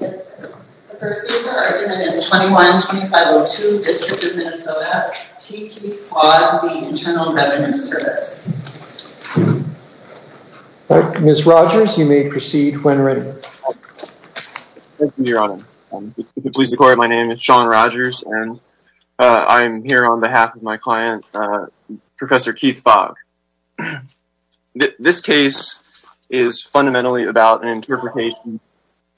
The first speaker argument is 21-2502, District of Minnesota. T. Keith Fogg v. Internal Revenue Service. Ms. Rogers, you may proceed when ready. Thank you, Your Honor. Please declare my name. It's Sean Rogers, and I'm here on behalf of my client, Professor Keith Fogg. This case is fundamentally about an interpretation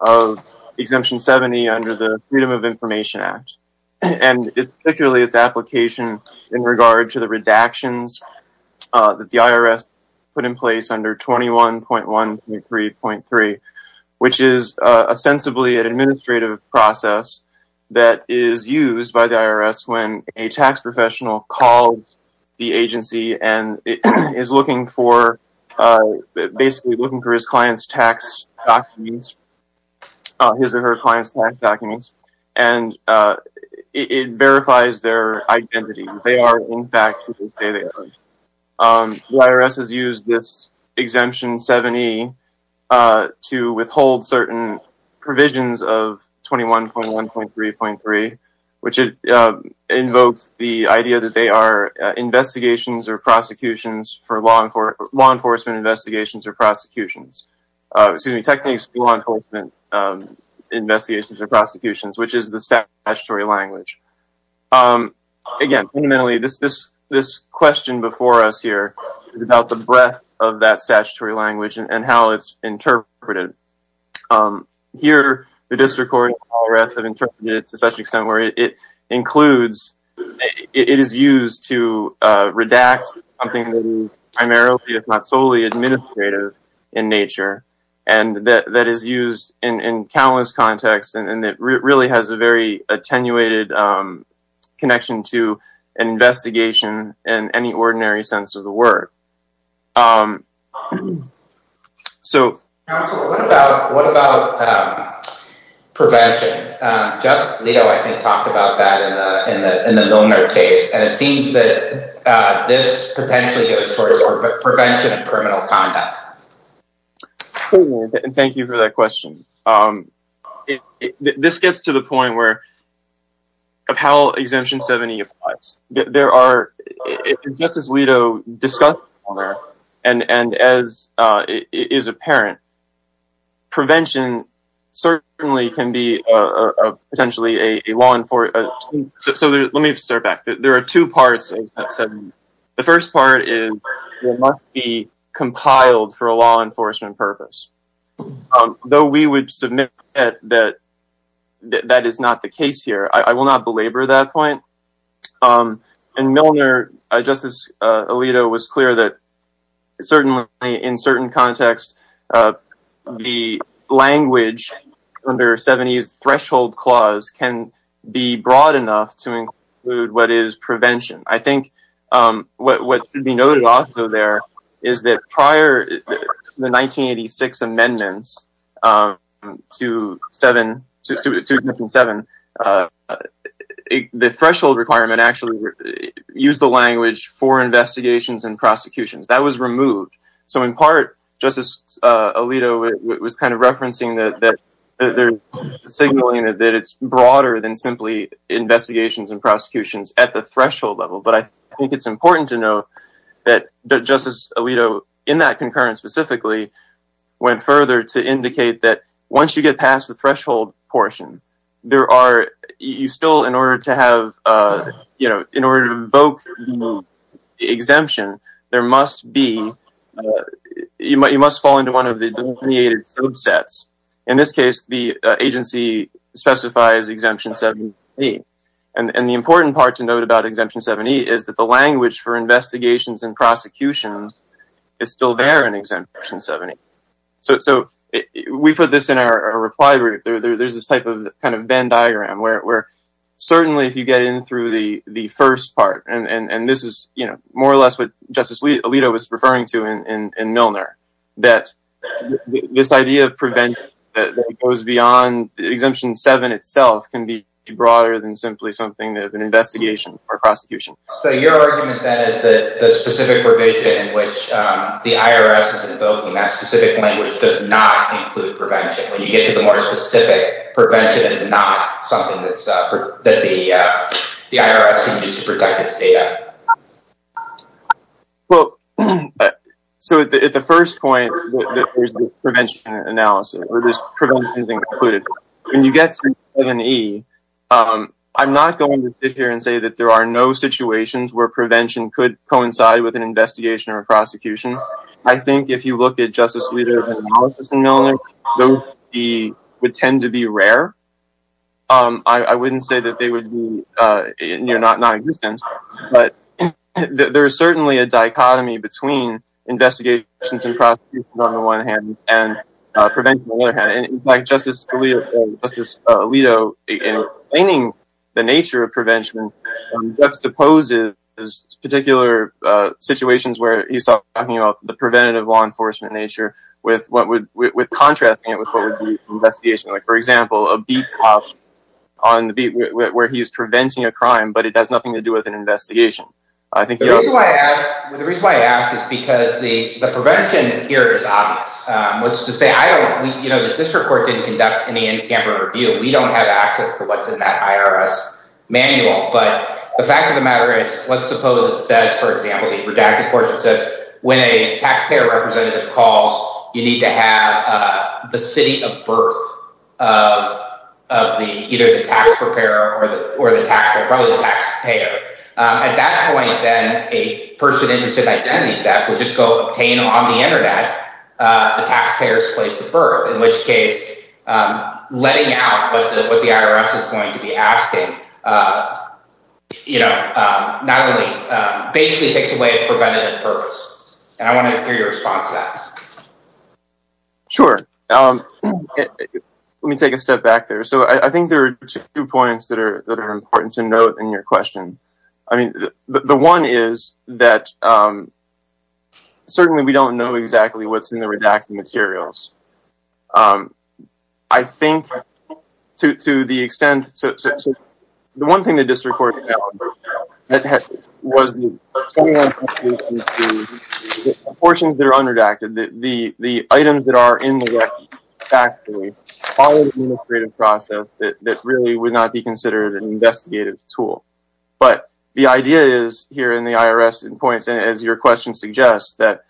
of Exemption 70 under the Freedom of Information Act, and particularly its application in regard to the redactions that the IRS put in place under 21.123.3, which is ostensibly an administrative process that is used by the IRS when a tax professional calls the agency and is basically looking for his or her client's tax documents, and it verifies their identity. They are, in fact, who they say they are. The IRS has used this Exemption 70 to withhold certain provisions of 21.123.3, which invokes the idea that they are investigations or prosecutions for law enforcement investigations or prosecutions. Excuse me, techniques for law enforcement investigations or prosecutions, which is the statutory language. Again, fundamentally, this question before us here is about the breadth of that statutory language and how it's interpreted. Here, the District Court and the IRS have interpreted it to such an extent where it includes, it is used to redact something that is primarily, if not solely, administrative in nature, and that is used in countless contexts, and it really has a very attenuated connection to an investigation in any ordinary sense of the word. Counsel, what about prevention? Justice Leto, I think, talked about that in the Milner case, and it seems that this potentially goes towards prevention of criminal conduct. Thank you for that question. This gets to the point of how Exemption 70 applies. Just as Leto discussed, and as is apparent, prevention certainly can be potentially a law enforcement— Let me start back. There are two parts of Exemption 70. The first part is it must be compiled for a law enforcement purpose. Though we would submit that that is not the case here, I will not belabor that point. In Milner, Justice Leto was clear that certainly in certain contexts, the language under 70's threshold clause can be broad enough to include what is prevention. I think what should be noted also there is that prior to the 1986 amendments to Exemption 70, the threshold requirement actually used the language for investigations and prosecutions. That was removed. In part, Justice Leto was referencing that it is broader than simply investigations and prosecutions at the threshold level. I think it is important to note that Justice Leto, in that concurrence specifically, went further to indicate that once you get past the threshold portion, in order to invoke the exemption, you must fall into one of the delineated subsets. In this case, the agency specifies Exemption 70. The important part to note about Exemption 70 is that the language for investigations and prosecutions is still there in Exemption 70. We put this in our reply group. There is this type of Venn diagram where certainly if you get in through the first part, and this is more or less what Justice Leto was referring to in Milner, that this idea of prevention that goes beyond Exemption 70 itself can be broader than simply something that is an investigation or prosecution. So your argument then is that the specific provision in which the IRS is invoking that specific language does not include prevention. When you get to the more specific, prevention is not something that the IRS can use to protect its data. Well, so at the first point, there is this prevention analysis, or this prevention is included. When you get to Exemption 70, I'm not going to sit here and say that there are no situations where prevention could coincide with an investigation or prosecution. I think if you look at Justice Leto's analysis in Milner, those would tend to be rare. I wouldn't say that they would be non-existent, but there is certainly a dichotomy between investigations and prosecutions on the one hand and prevention on the other hand. In fact, Justice Leto, in explaining the nature of prevention, juxtaposes particular situations where he's talking about the preventative law enforcement nature with contrasting it with what would be an investigation. Like, for example, a beat cop where he's preventing a crime, but it has nothing to do with an investigation. The reason why I ask is because the prevention here is obvious. Which is to say, the district court didn't conduct any in-camper review. We don't have access to what's in that IRS manual. But the fact of the matter is, let's suppose it says, for example, the redacted portion says, when a taxpayer representative calls, you need to have the city of birth of either the taxpayer or the taxpayer. At that point, then, a person interested in identity theft would just go obtain on the internet the taxpayer's place of birth. In which case, letting out what the IRS is going to be asking basically takes away preventative purpose. And I want to hear your response to that. Sure. Let me take a step back there. So I think there are two points that are important to note in your question. I mean, the one is that certainly we don't know exactly what's in the redacted materials. I think, to the extent, the one thing the district court found was the portions that are unredacted. The items that are in the redacted, factually, follow an administrative process that really would not be considered an investigative tool. But the idea is, here in the IRS, as your question suggests, that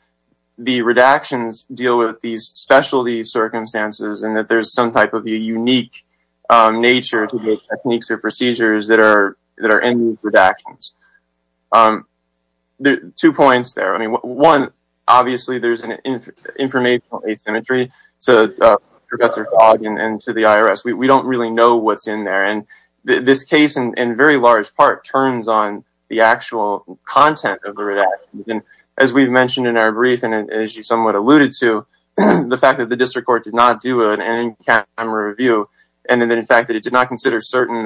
the redactions deal with these specialty circumstances and that there's some type of unique nature to the techniques or procedures that are in these redactions. Two points there. One, obviously, there's an informational asymmetry to Professor Fogg and to the IRS. We don't really know what's in there. And this case, in very large part, turns on the actual content of the redactions. And as we've mentioned in our brief, and as you somewhat alluded to, the fact that the district court did not do an in-camera review. And then, in fact, that it did not consider certain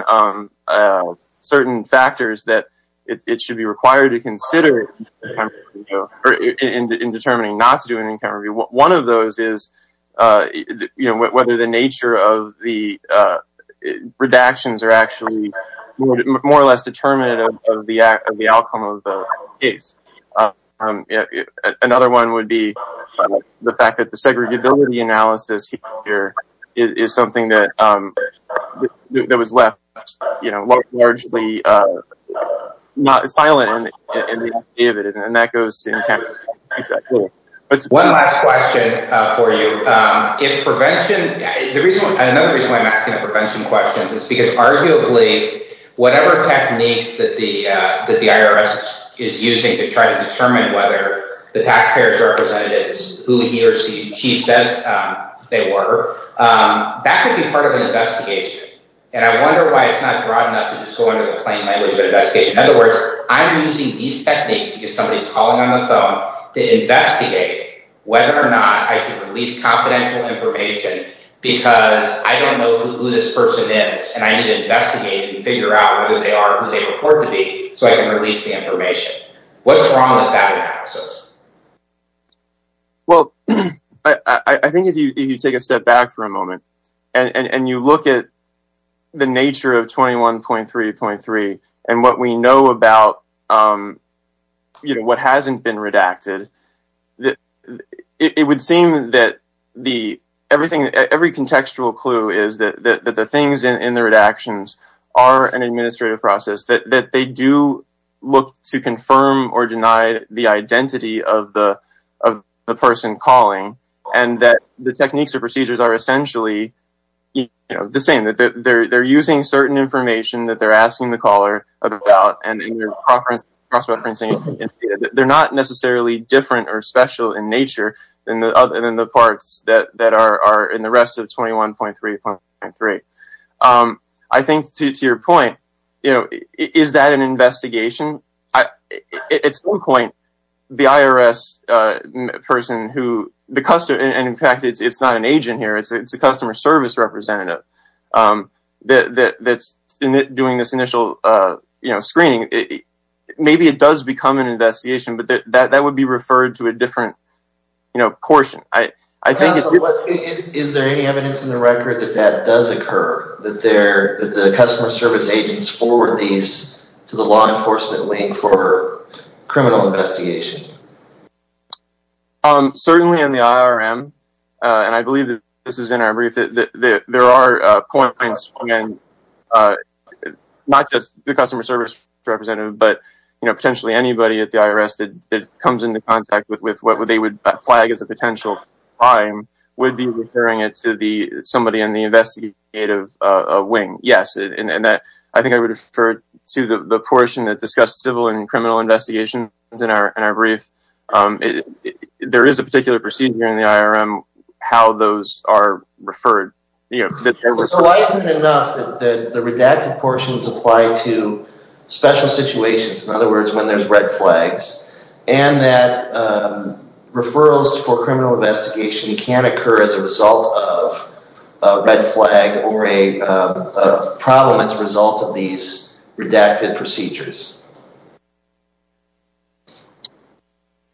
factors that it should be required to consider in determining not to do an in-camera review. One of those is, you know, whether the nature of the redactions are actually more or less determinative of the outcome of the case. Another one would be the fact that the segregability analysis here is something that was left, you know, largely not silent. And that goes to in-camera. One last question for you. Another reason why I'm asking the prevention questions is because, arguably, whatever techniques that the IRS is using to try to determine whether the taxpayer's representatives, who he or she says they were, that could be part of an investigation. And I wonder why it's not broad enough to just go into the plain language of an investigation. In other words, I'm using these techniques because somebody's calling on the phone to investigate whether or not I should release confidential information because I don't know who this person is. And I need to investigate and figure out whether they are who they report to be so I can release the information. What's wrong with that analysis? Well, I think if you take a step back for a moment and you look at the nature of 21.3.3 and what we know about, you know, what hasn't been redacted, it would seem that every contextual clue is that the things in the redactions are an administrative process. That they do look to confirm or deny the identity of the person calling and that the techniques or procedures are essentially, you know, the same. They're using certain information that they're asking the caller about and they're cross-referencing it. They're not necessarily different or special in nature other than the parts that are in the rest of 21.3.3. I think to your point, you know, is that an investigation? At some point, the IRS person who the customer and in fact, it's not an agent here. It's a customer service representative that's doing this initial screening. Maybe it does become an investigation, but that would be referred to a different, you know, portion. Is there any evidence in the record that that does occur? That the customer service agents forward these to the law enforcement link for criminal investigation? Certainly in the IRM. And I believe that this is in our brief that there are points, again, not just the customer service representative, but, you know, potentially anybody at the IRS that comes into contact with what they would flag as a potential crime would be referring it to the somebody in the investigative wing. I think I would refer to the portion that discussed civil and criminal investigations in our brief. There is a particular procedure in the IRM how those are referred. So why is it enough that the redacted portions apply to special situations? In other words, when there's red flags and that referrals for criminal investigation can occur as a result of a red flag or a problem as a result of these redacted procedures.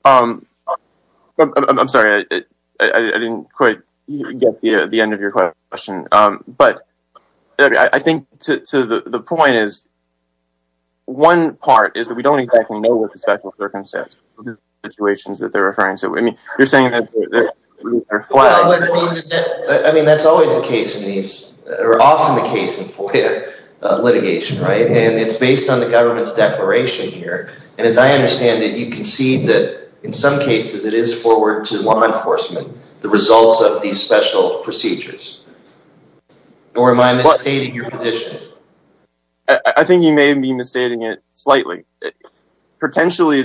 I'm sorry, I didn't quite get the end of your question. But I think to the point is one part is that we don't exactly know what the special circumstances situations that they're referring to. I mean, you're saying that they're flying. I mean, that's always the case. These are often the case in litigation. Right. And it's based on the government's declaration here. And as I understand it, you can see that in some cases it is forward to law enforcement. The results of these special procedures. Or am I misstating your position? I think you may be misstating it slightly. Potentially,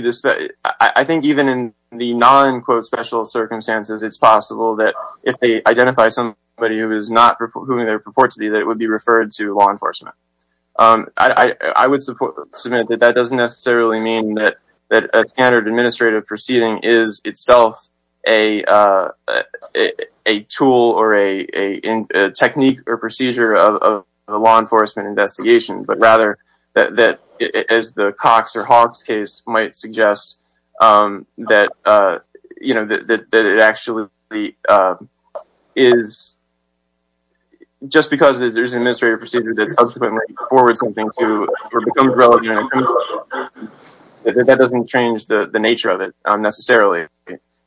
I think even in the non-quote special circumstances, it's possible that if they identify somebody who is not who they report to be that it would be referred to law enforcement. I would submit that that doesn't necessarily mean that a standard administrative proceeding is itself a tool or a technique or procedure of a law enforcement investigation. But rather that is the Cox or Hawks case might suggest that, you know, that it actually is. Just because there's an administrative procedure that subsequently forward something to become relevant. That doesn't change the nature of it necessarily.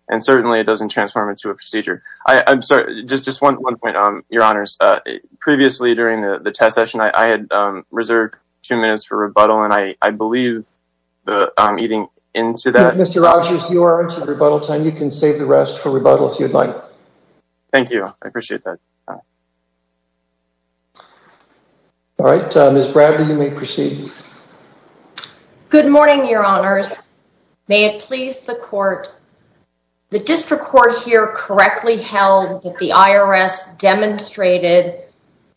And certainly it doesn't transform into a procedure. I'm sorry. Just just one point on your honors. Previously, during the test session, I had reserved two minutes for rebuttal, and I believe that I'm eating into that. Mr. Rogers, you are into rebuttal time. You can save the rest for rebuttal if you'd like. Thank you. I appreciate that. All right. Miss Bradley, you may proceed. Good morning, your honors. May it please the court. The district court here correctly held that the IRS demonstrated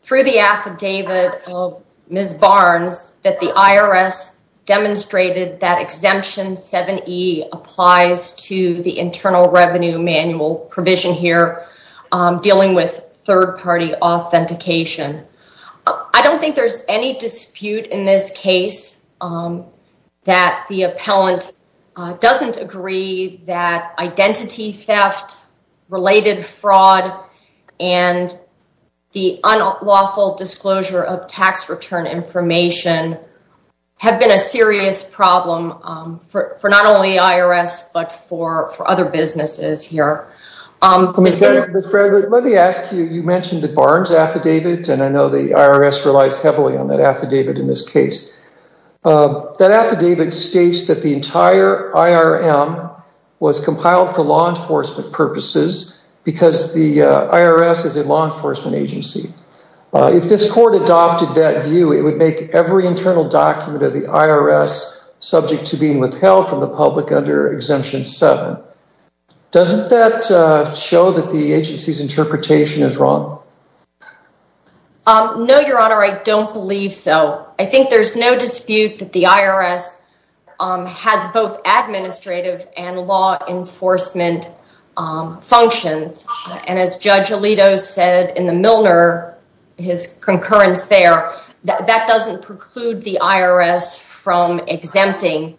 through the affidavit of Ms. Barnes that the IRS demonstrated that exemption 7E applies to the internal revenue manual provision here dealing with third party authentication. I don't think there's any dispute in this case that the appellant doesn't agree that identity theft related fraud and the unlawful disclosure of tax return information have been a serious problem for not only IRS, but for for other businesses here. Let me ask you, you mentioned the Barnes affidavit, and I know the IRS relies heavily on that affidavit in this case. That affidavit states that the entire IRM was compiled for law enforcement purposes because the IRS is a law enforcement agency. If this court adopted that view, it would make every internal document of the IRS subject to being withheld from the public under exemption 7. Doesn't that show that the agency's interpretation is wrong? No, your honor. I don't believe so. I think there's no dispute that the IRS has both administrative and law enforcement functions. And as Judge Alito said in the Milner, his concurrence there, that doesn't preclude the IRS from exempting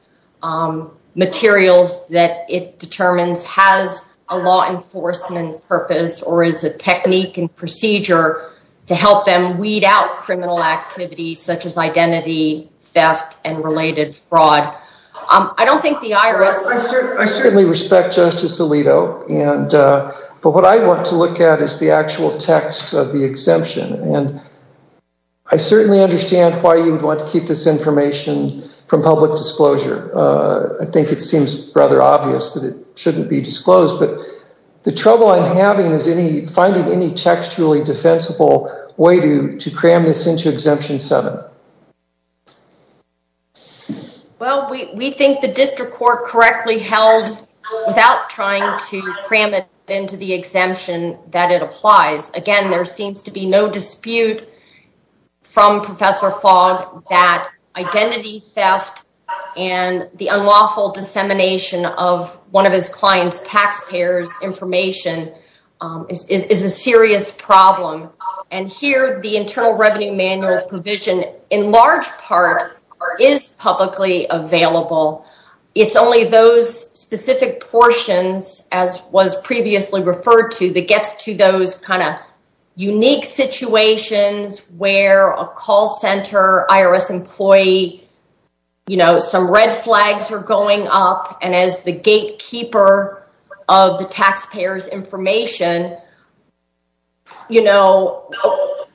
materials that it determines has a law enforcement purpose or is a technique and procedure to help them weed out criminal activities such as identity theft and related fraud. I don't think the IRS. I certainly respect Justice Alito. And but what I want to look at is the actual text of the exemption. And I certainly understand why you would want to keep this information from public disclosure. I think it seems rather obvious that it shouldn't be disclosed. But the trouble I'm having is any finding any textually defensible way to to cram this into exemption 7. Well, we think the district court correctly held without trying to cram it into the exemption that it applies. Again, there seems to be no dispute from Professor Fogg that identity theft and the unlawful dissemination of one of his clients taxpayers information is a serious problem. And here the Internal Revenue Manual provision, in large part, is publicly available. It's only those specific portions, as was previously referred to, that gets to those kind of unique situations where a call center IRS employee, you know, some red flags are going up. And as the gatekeeper of the taxpayer's information, you know,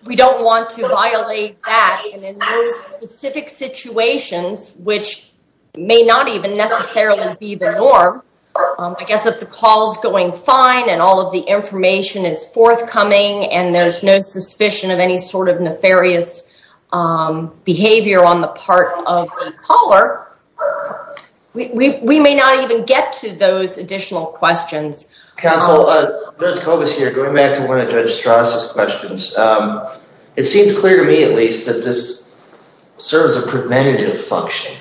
we don't want to violate that. And in those specific situations, which may not even necessarily be the norm, I guess if the call's going fine and all of the information is forthcoming and there's no suspicion of any sort of nefarious behavior on the part of the caller. We may not even get to those additional questions. Counsel, Judge Kobus here, going back to one of Judge Strauss' questions. It seems clear to me, at least, that this serves a preventative function.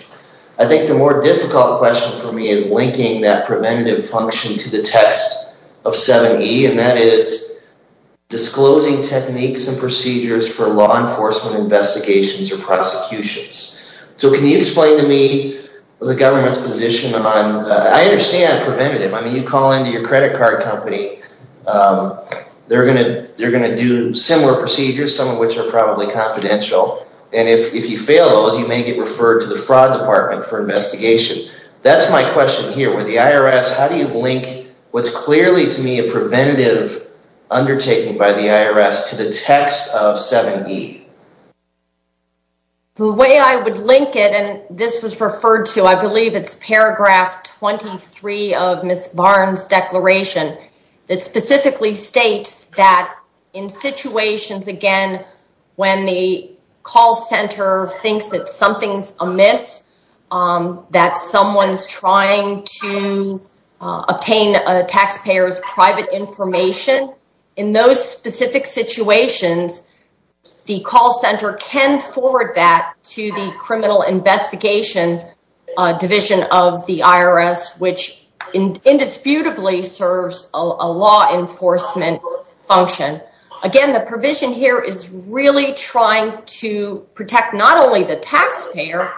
I think the more difficult question for me is linking that preventative function to the text of 7E, and that is disclosing techniques and procedures for law enforcement investigations or prosecutions. So can you explain to me the government's position on, I understand preventative. I mean, you call into your credit card company, they're going to do similar procedures, some of which are probably confidential. And if you fail those, you may get referred to the fraud department for investigation. That's my question here. With the IRS, how do you link what's clearly, to me, a preventative undertaking by the IRS to the text of 7E? The way I would link it, and this was referred to, I believe it's paragraph 23 of Ms. Barnes' declaration, that specifically states that in situations, again, when the call center thinks that something's amiss, that someone's trying to obtain a taxpayer's private information, in those specific situations, the call center can forward that to the criminal investigation division of the IRS, which indisputably serves a law enforcement function. Again, the provision here is really trying to protect not only the taxpayer,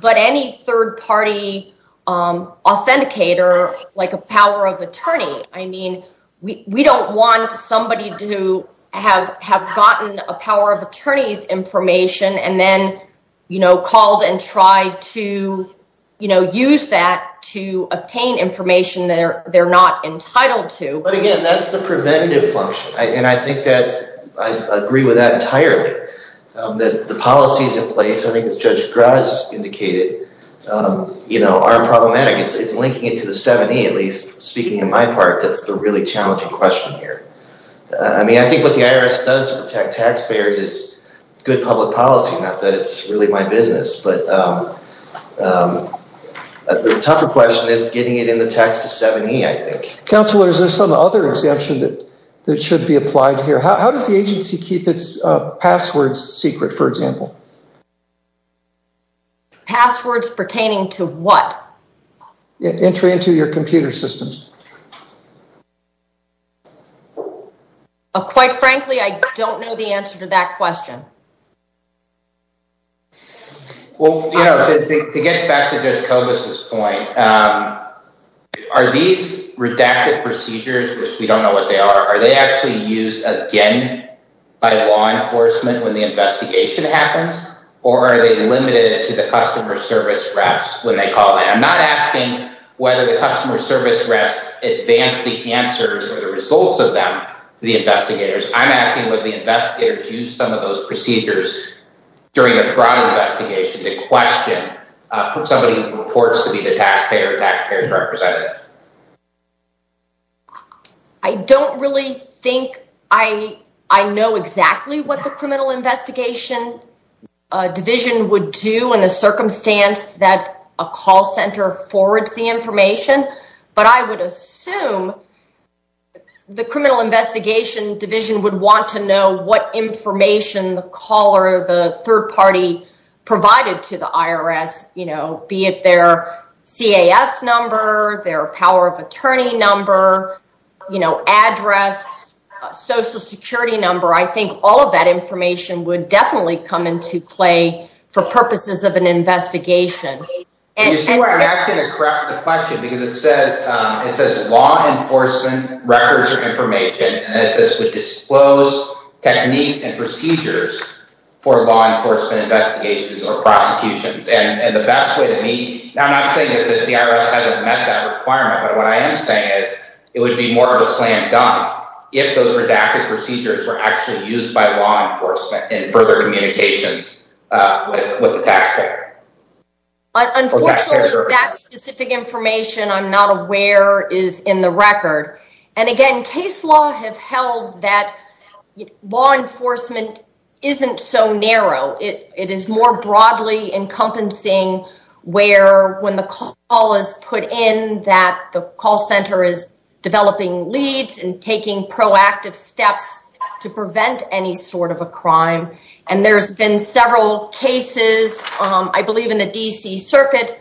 but any third-party authenticator, like a power of attorney. I mean, we don't want somebody to have gotten a power of attorney's information, and then called and tried to use that to obtain information they're not entitled to. But again, that's the preventative function, and I think that I agree with that entirely. The policies in place, I think as Judge Graz indicated, are problematic. It's linking it to the 7E, at least, speaking on my part, that's the really challenging question here. I mean, I think what the IRS does to protect taxpayers is good public policy. Not that it's really my business, but the tougher question is getting it in the text of 7E, I think. Counselor, is there some other exemption that should be applied here? How does the agency keep its passwords secret, for example? Passwords pertaining to what? Entry into your computer systems. Quite frankly, I don't know the answer to that question. Well, to get back to Judge Kobus' point, are these redacted procedures, which we don't know what they are, are they actually used again by law enforcement when the investigation happens, or are they limited to the customer service refs when they call in? I'm not asking whether the customer service refs advance the answers or the results of them to the investigators. I'm asking whether the investigators use some of those procedures during a fraud investigation to question somebody who reports to be the taxpayer or taxpayer's representative. I don't really think I know exactly what the Criminal Investigation Division would do in the circumstance that a call center forwards the information, but I would assume the Criminal Investigation Division would want to know what information the caller or the third party provided to the IRS, be it their CAF number, their power of attorney number, address, social security number. I think all of that information would definitely come into play for purposes of an investigation. You see why I'm asking the question? Because it says law enforcement records or information, and it says would disclose techniques and procedures for law enforcement investigations or prosecutions. And the best way to me, I'm not saying that the IRS hasn't met that requirement, but what I am saying is it would be more of a slam dunk if those redacted procedures were actually used by law enforcement in further communications with the taxpayer. Unfortunately, that specific information I'm not aware is in the record. And again, case law have held that law enforcement isn't so narrow. It is more broadly encompassing where when the call is put in that the call center is developing leads and taking proactive steps to prevent any sort of a crime. And there's been several cases, I believe in the D.C. Circuit,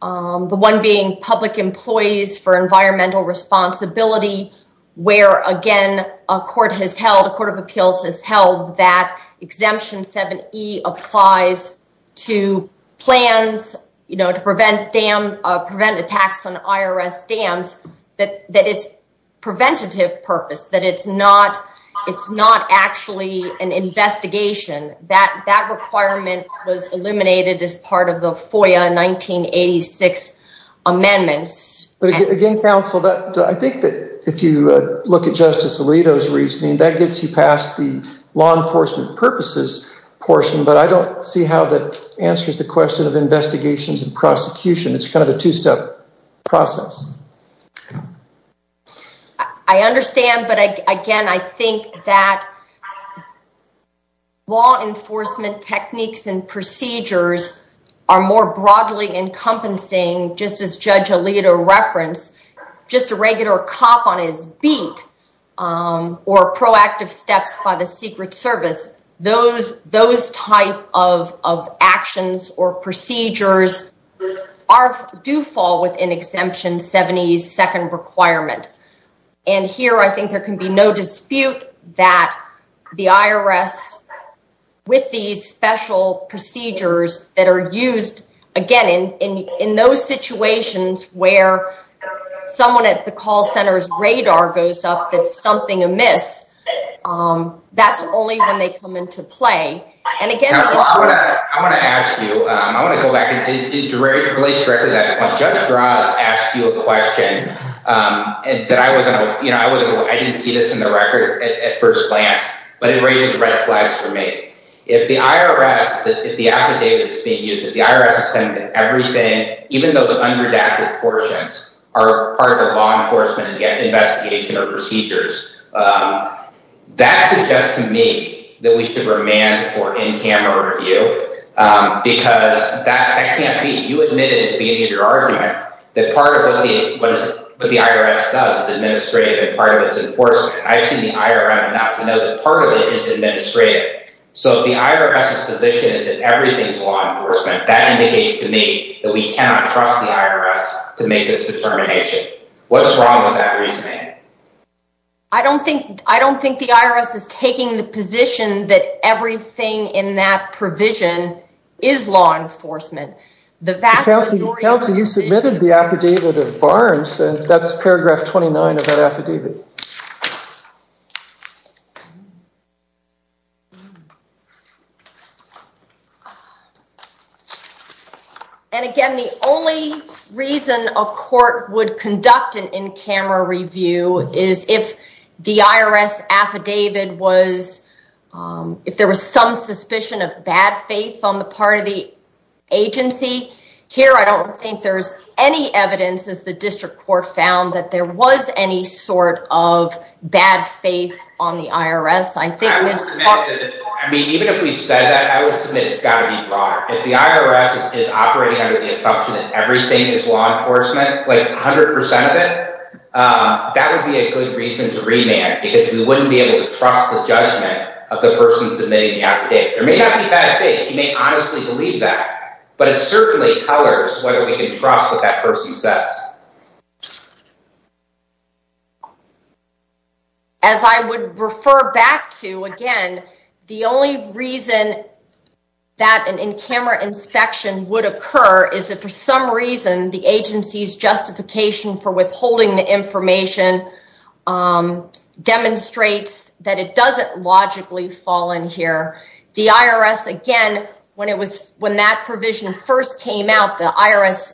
the one being public employees for environmental responsibility, where again, a court of appeals has held that Exemption 7E applies to plans to prevent attacks on IRS dams, that it's preventative purpose, that it's not actually an investigation. That requirement was eliminated as part of the FOIA 1986 amendments. But again, counsel, I think that if you look at Justice Alito's reasoning, that gets you past the law enforcement purposes portion, but I don't see how that answers the question of investigations and prosecution. It's kind of a two-step process. I understand, but again, I think that law enforcement techniques and procedures are more broadly encompassing, just as Judge Alito referenced, just a regular cop on his beat or proactive steps by the Secret Service. Those type of actions or procedures do fall within Exemption 7E's second requirement. And here, I think there can be no dispute that the IRS, with these special procedures that are used, again, in those situations where someone at the call center's radar goes up that something amiss, that's only when they come into play. And again, it's- Counsel, I want to ask you, I want to go back, and it relates directly to that. When Judge Ross asked you a question, I didn't see this in the record at first glance, but it raises red flags for me. If the IRS, if the affidavit that's being used, if the IRS is saying that everything, even those unredacted portions, are part of the law enforcement investigation or procedures, that suggests to me that we should remand for in-camera review, because that can't be. You admitted at the beginning of your argument that part of what the IRS does is administrative and part of it is enforcement. I've seen the IRM enough to know that part of it is administrative. So if the IRS's position is that everything's law enforcement, that indicates to me that we cannot trust the IRS to make this determination. What's wrong with that reasoning? I don't think the IRS is taking the position that everything in that provision is law enforcement. The vast majority- Counsel, you submitted the affidavit of Barnes, and that's paragraph 29 of that affidavit. And again, the only reason a court would conduct an in-camera review is if the IRS affidavit was, if there was some suspicion of bad faith on the part of the agency. Here, I don't think there's any evidence, as the district court found, that there was any sort of bad faith on the IRS. I would submit that it's wrong. I mean, even if we've said that, I would submit it's got to be wrong. If the IRS is operating under the assumption that everything is law enforcement, like 100% of it, that would be a good reason to remand, because we wouldn't be able to trust the judgment of the person submitting the affidavit. There may not be bad faith. You may honestly believe that. But it certainly colors whether we can trust what that person says. As I would refer back to, again, the only reason that an in-camera inspection would occur is if for some reason the agency's justification for withholding the information demonstrates that it doesn't logically fall in here. The IRS, again, when that provision first came out, the IRS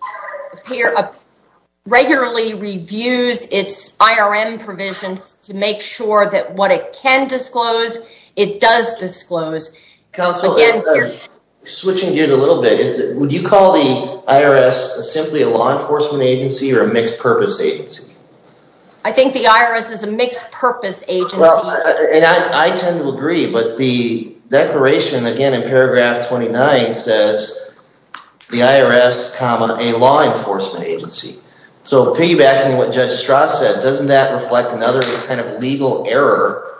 regularly reviews its IRM provisions to make sure that what it can disclose, it does disclose. Counsel, switching gears a little bit, would you call the IRS simply a law enforcement agency or a mixed-purpose agency? I think the IRS is a mixed-purpose agency. I tend to agree, but the declaration, again, in paragraph 29 says the IRS, comma, a law enforcement agency. So piggybacking on what Judge Strauss said, doesn't that reflect another kind of legal error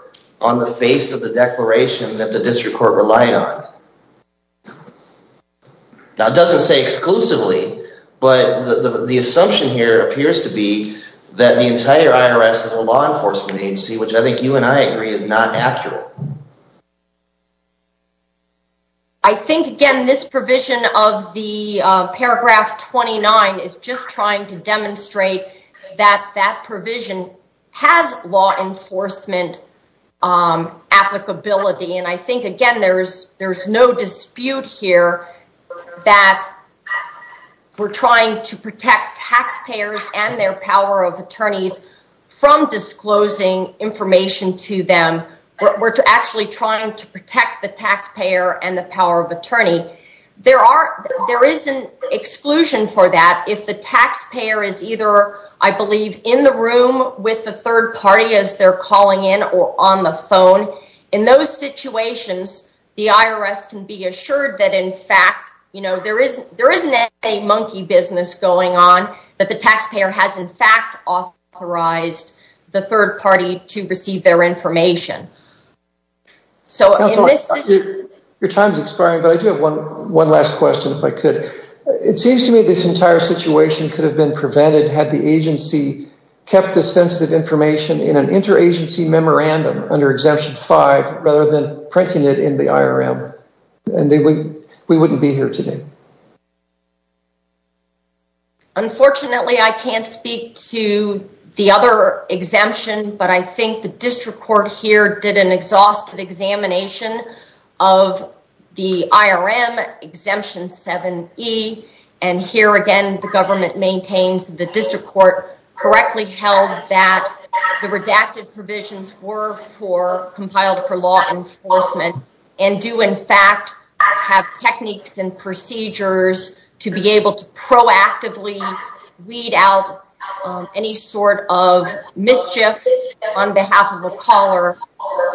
on the face of the declaration that the district court relied on? Now, it doesn't say exclusively, but the assumption here appears to be that the entire IRS is a law enforcement agency, which I think you and I agree is not accurate. I think, again, this provision of the paragraph 29 is just trying to demonstrate that that provision has law enforcement applicability. And I think, again, there's no dispute here that we're trying to protect taxpayers and their power of attorneys from disclosing information to them. We're actually trying to protect the taxpayer and the power of attorney. There is an exclusion for that if the taxpayer is either, I believe, in the room with the third party as they're calling in or on the phone. In those situations, the IRS can be assured that, in fact, there isn't a monkey business going on, that the taxpayer has, in fact, authorized the third party to receive their information. Your time is expiring, but I do have one last question, if I could. It seems to me this entire situation could have been prevented had the agency kept the sensitive information in an interagency memorandum under Exemption 5 rather than printing it in the IRM, and we wouldn't be here today. Unfortunately, I can't speak to the other exemption, but I think the district court here did an exhaustive examination of the IRM Exemption 7E, and here, again, the government maintains the district court correctly held that the redacted provisions were compiled for law enforcement and do, in fact, have techniques and procedures to be able to proactively weed out any sort of mischief on behalf of a caller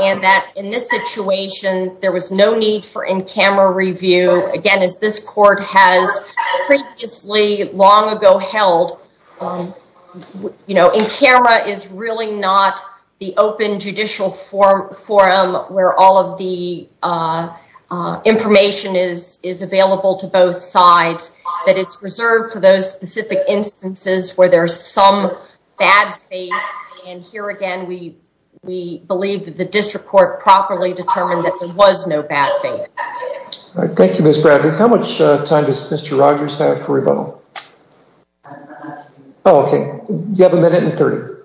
and that, in this situation, there was no need for in-camera review. Again, as this court has previously long ago held, in-camera is really not the open judicial forum where all of the information is available to both sides, but it's reserved for those specific instances where there's some bad faith, and here, again, we believe that the district court properly determined that there was no bad faith. Thank you, Ms. Bradley. How much time does Mr. Rogers have for rebuttal? Oh, okay. You have a minute and 30.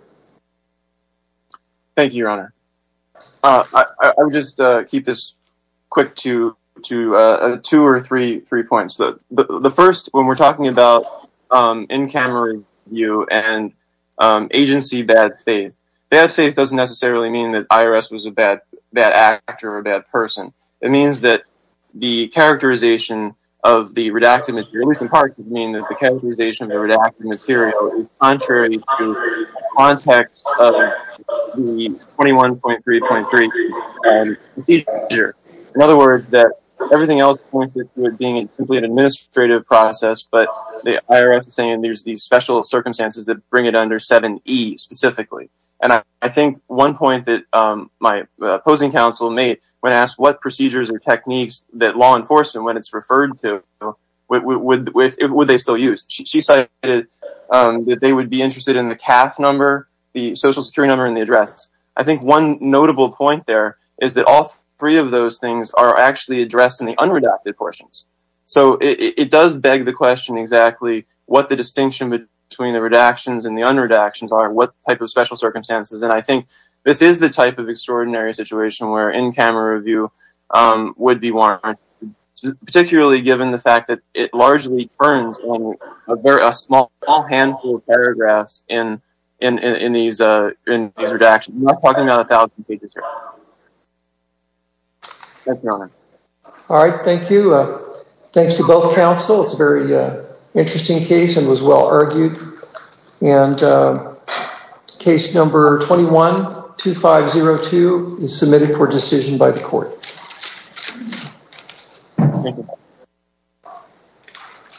Thank you, Your Honor. I'll just keep this quick to two or three points. The first, when we're talking about in-camera review and agency bad faith, bad faith doesn't necessarily mean that IRS was a bad actor or a bad person. It means that the characterization of the redacted material, at least in part, would mean that the characterization of the redacted material is contrary to the context of the 21.3.3 procedure. In other words, that everything else points to it being simply an administrative process, but the IRS is saying there's these special circumstances that bring it under 7E specifically. And I think one point that my opposing counsel made when asked what procedures or techniques that law enforcement, when it's referred to, would they still use? She cited that they would be interested in the CAF number, the social security number, and the address. I think one notable point there is that all three of those things are actually addressed in the unredacted portions. So it does beg the question exactly what the distinction between the redactions and the unredactions are, what type of special circumstances. And I think this is the type of extraordinary situation where in-camera review would be warranted, particularly given the fact that it largely turns in a small handful of paragraphs in these redactions. We're not talking about 1,000 pages here. Thank you, Your Honor. All right. Thank you. Thanks to both counsel. It's a very interesting case and was well argued. And case number 21-2502 is submitted for decision by the court.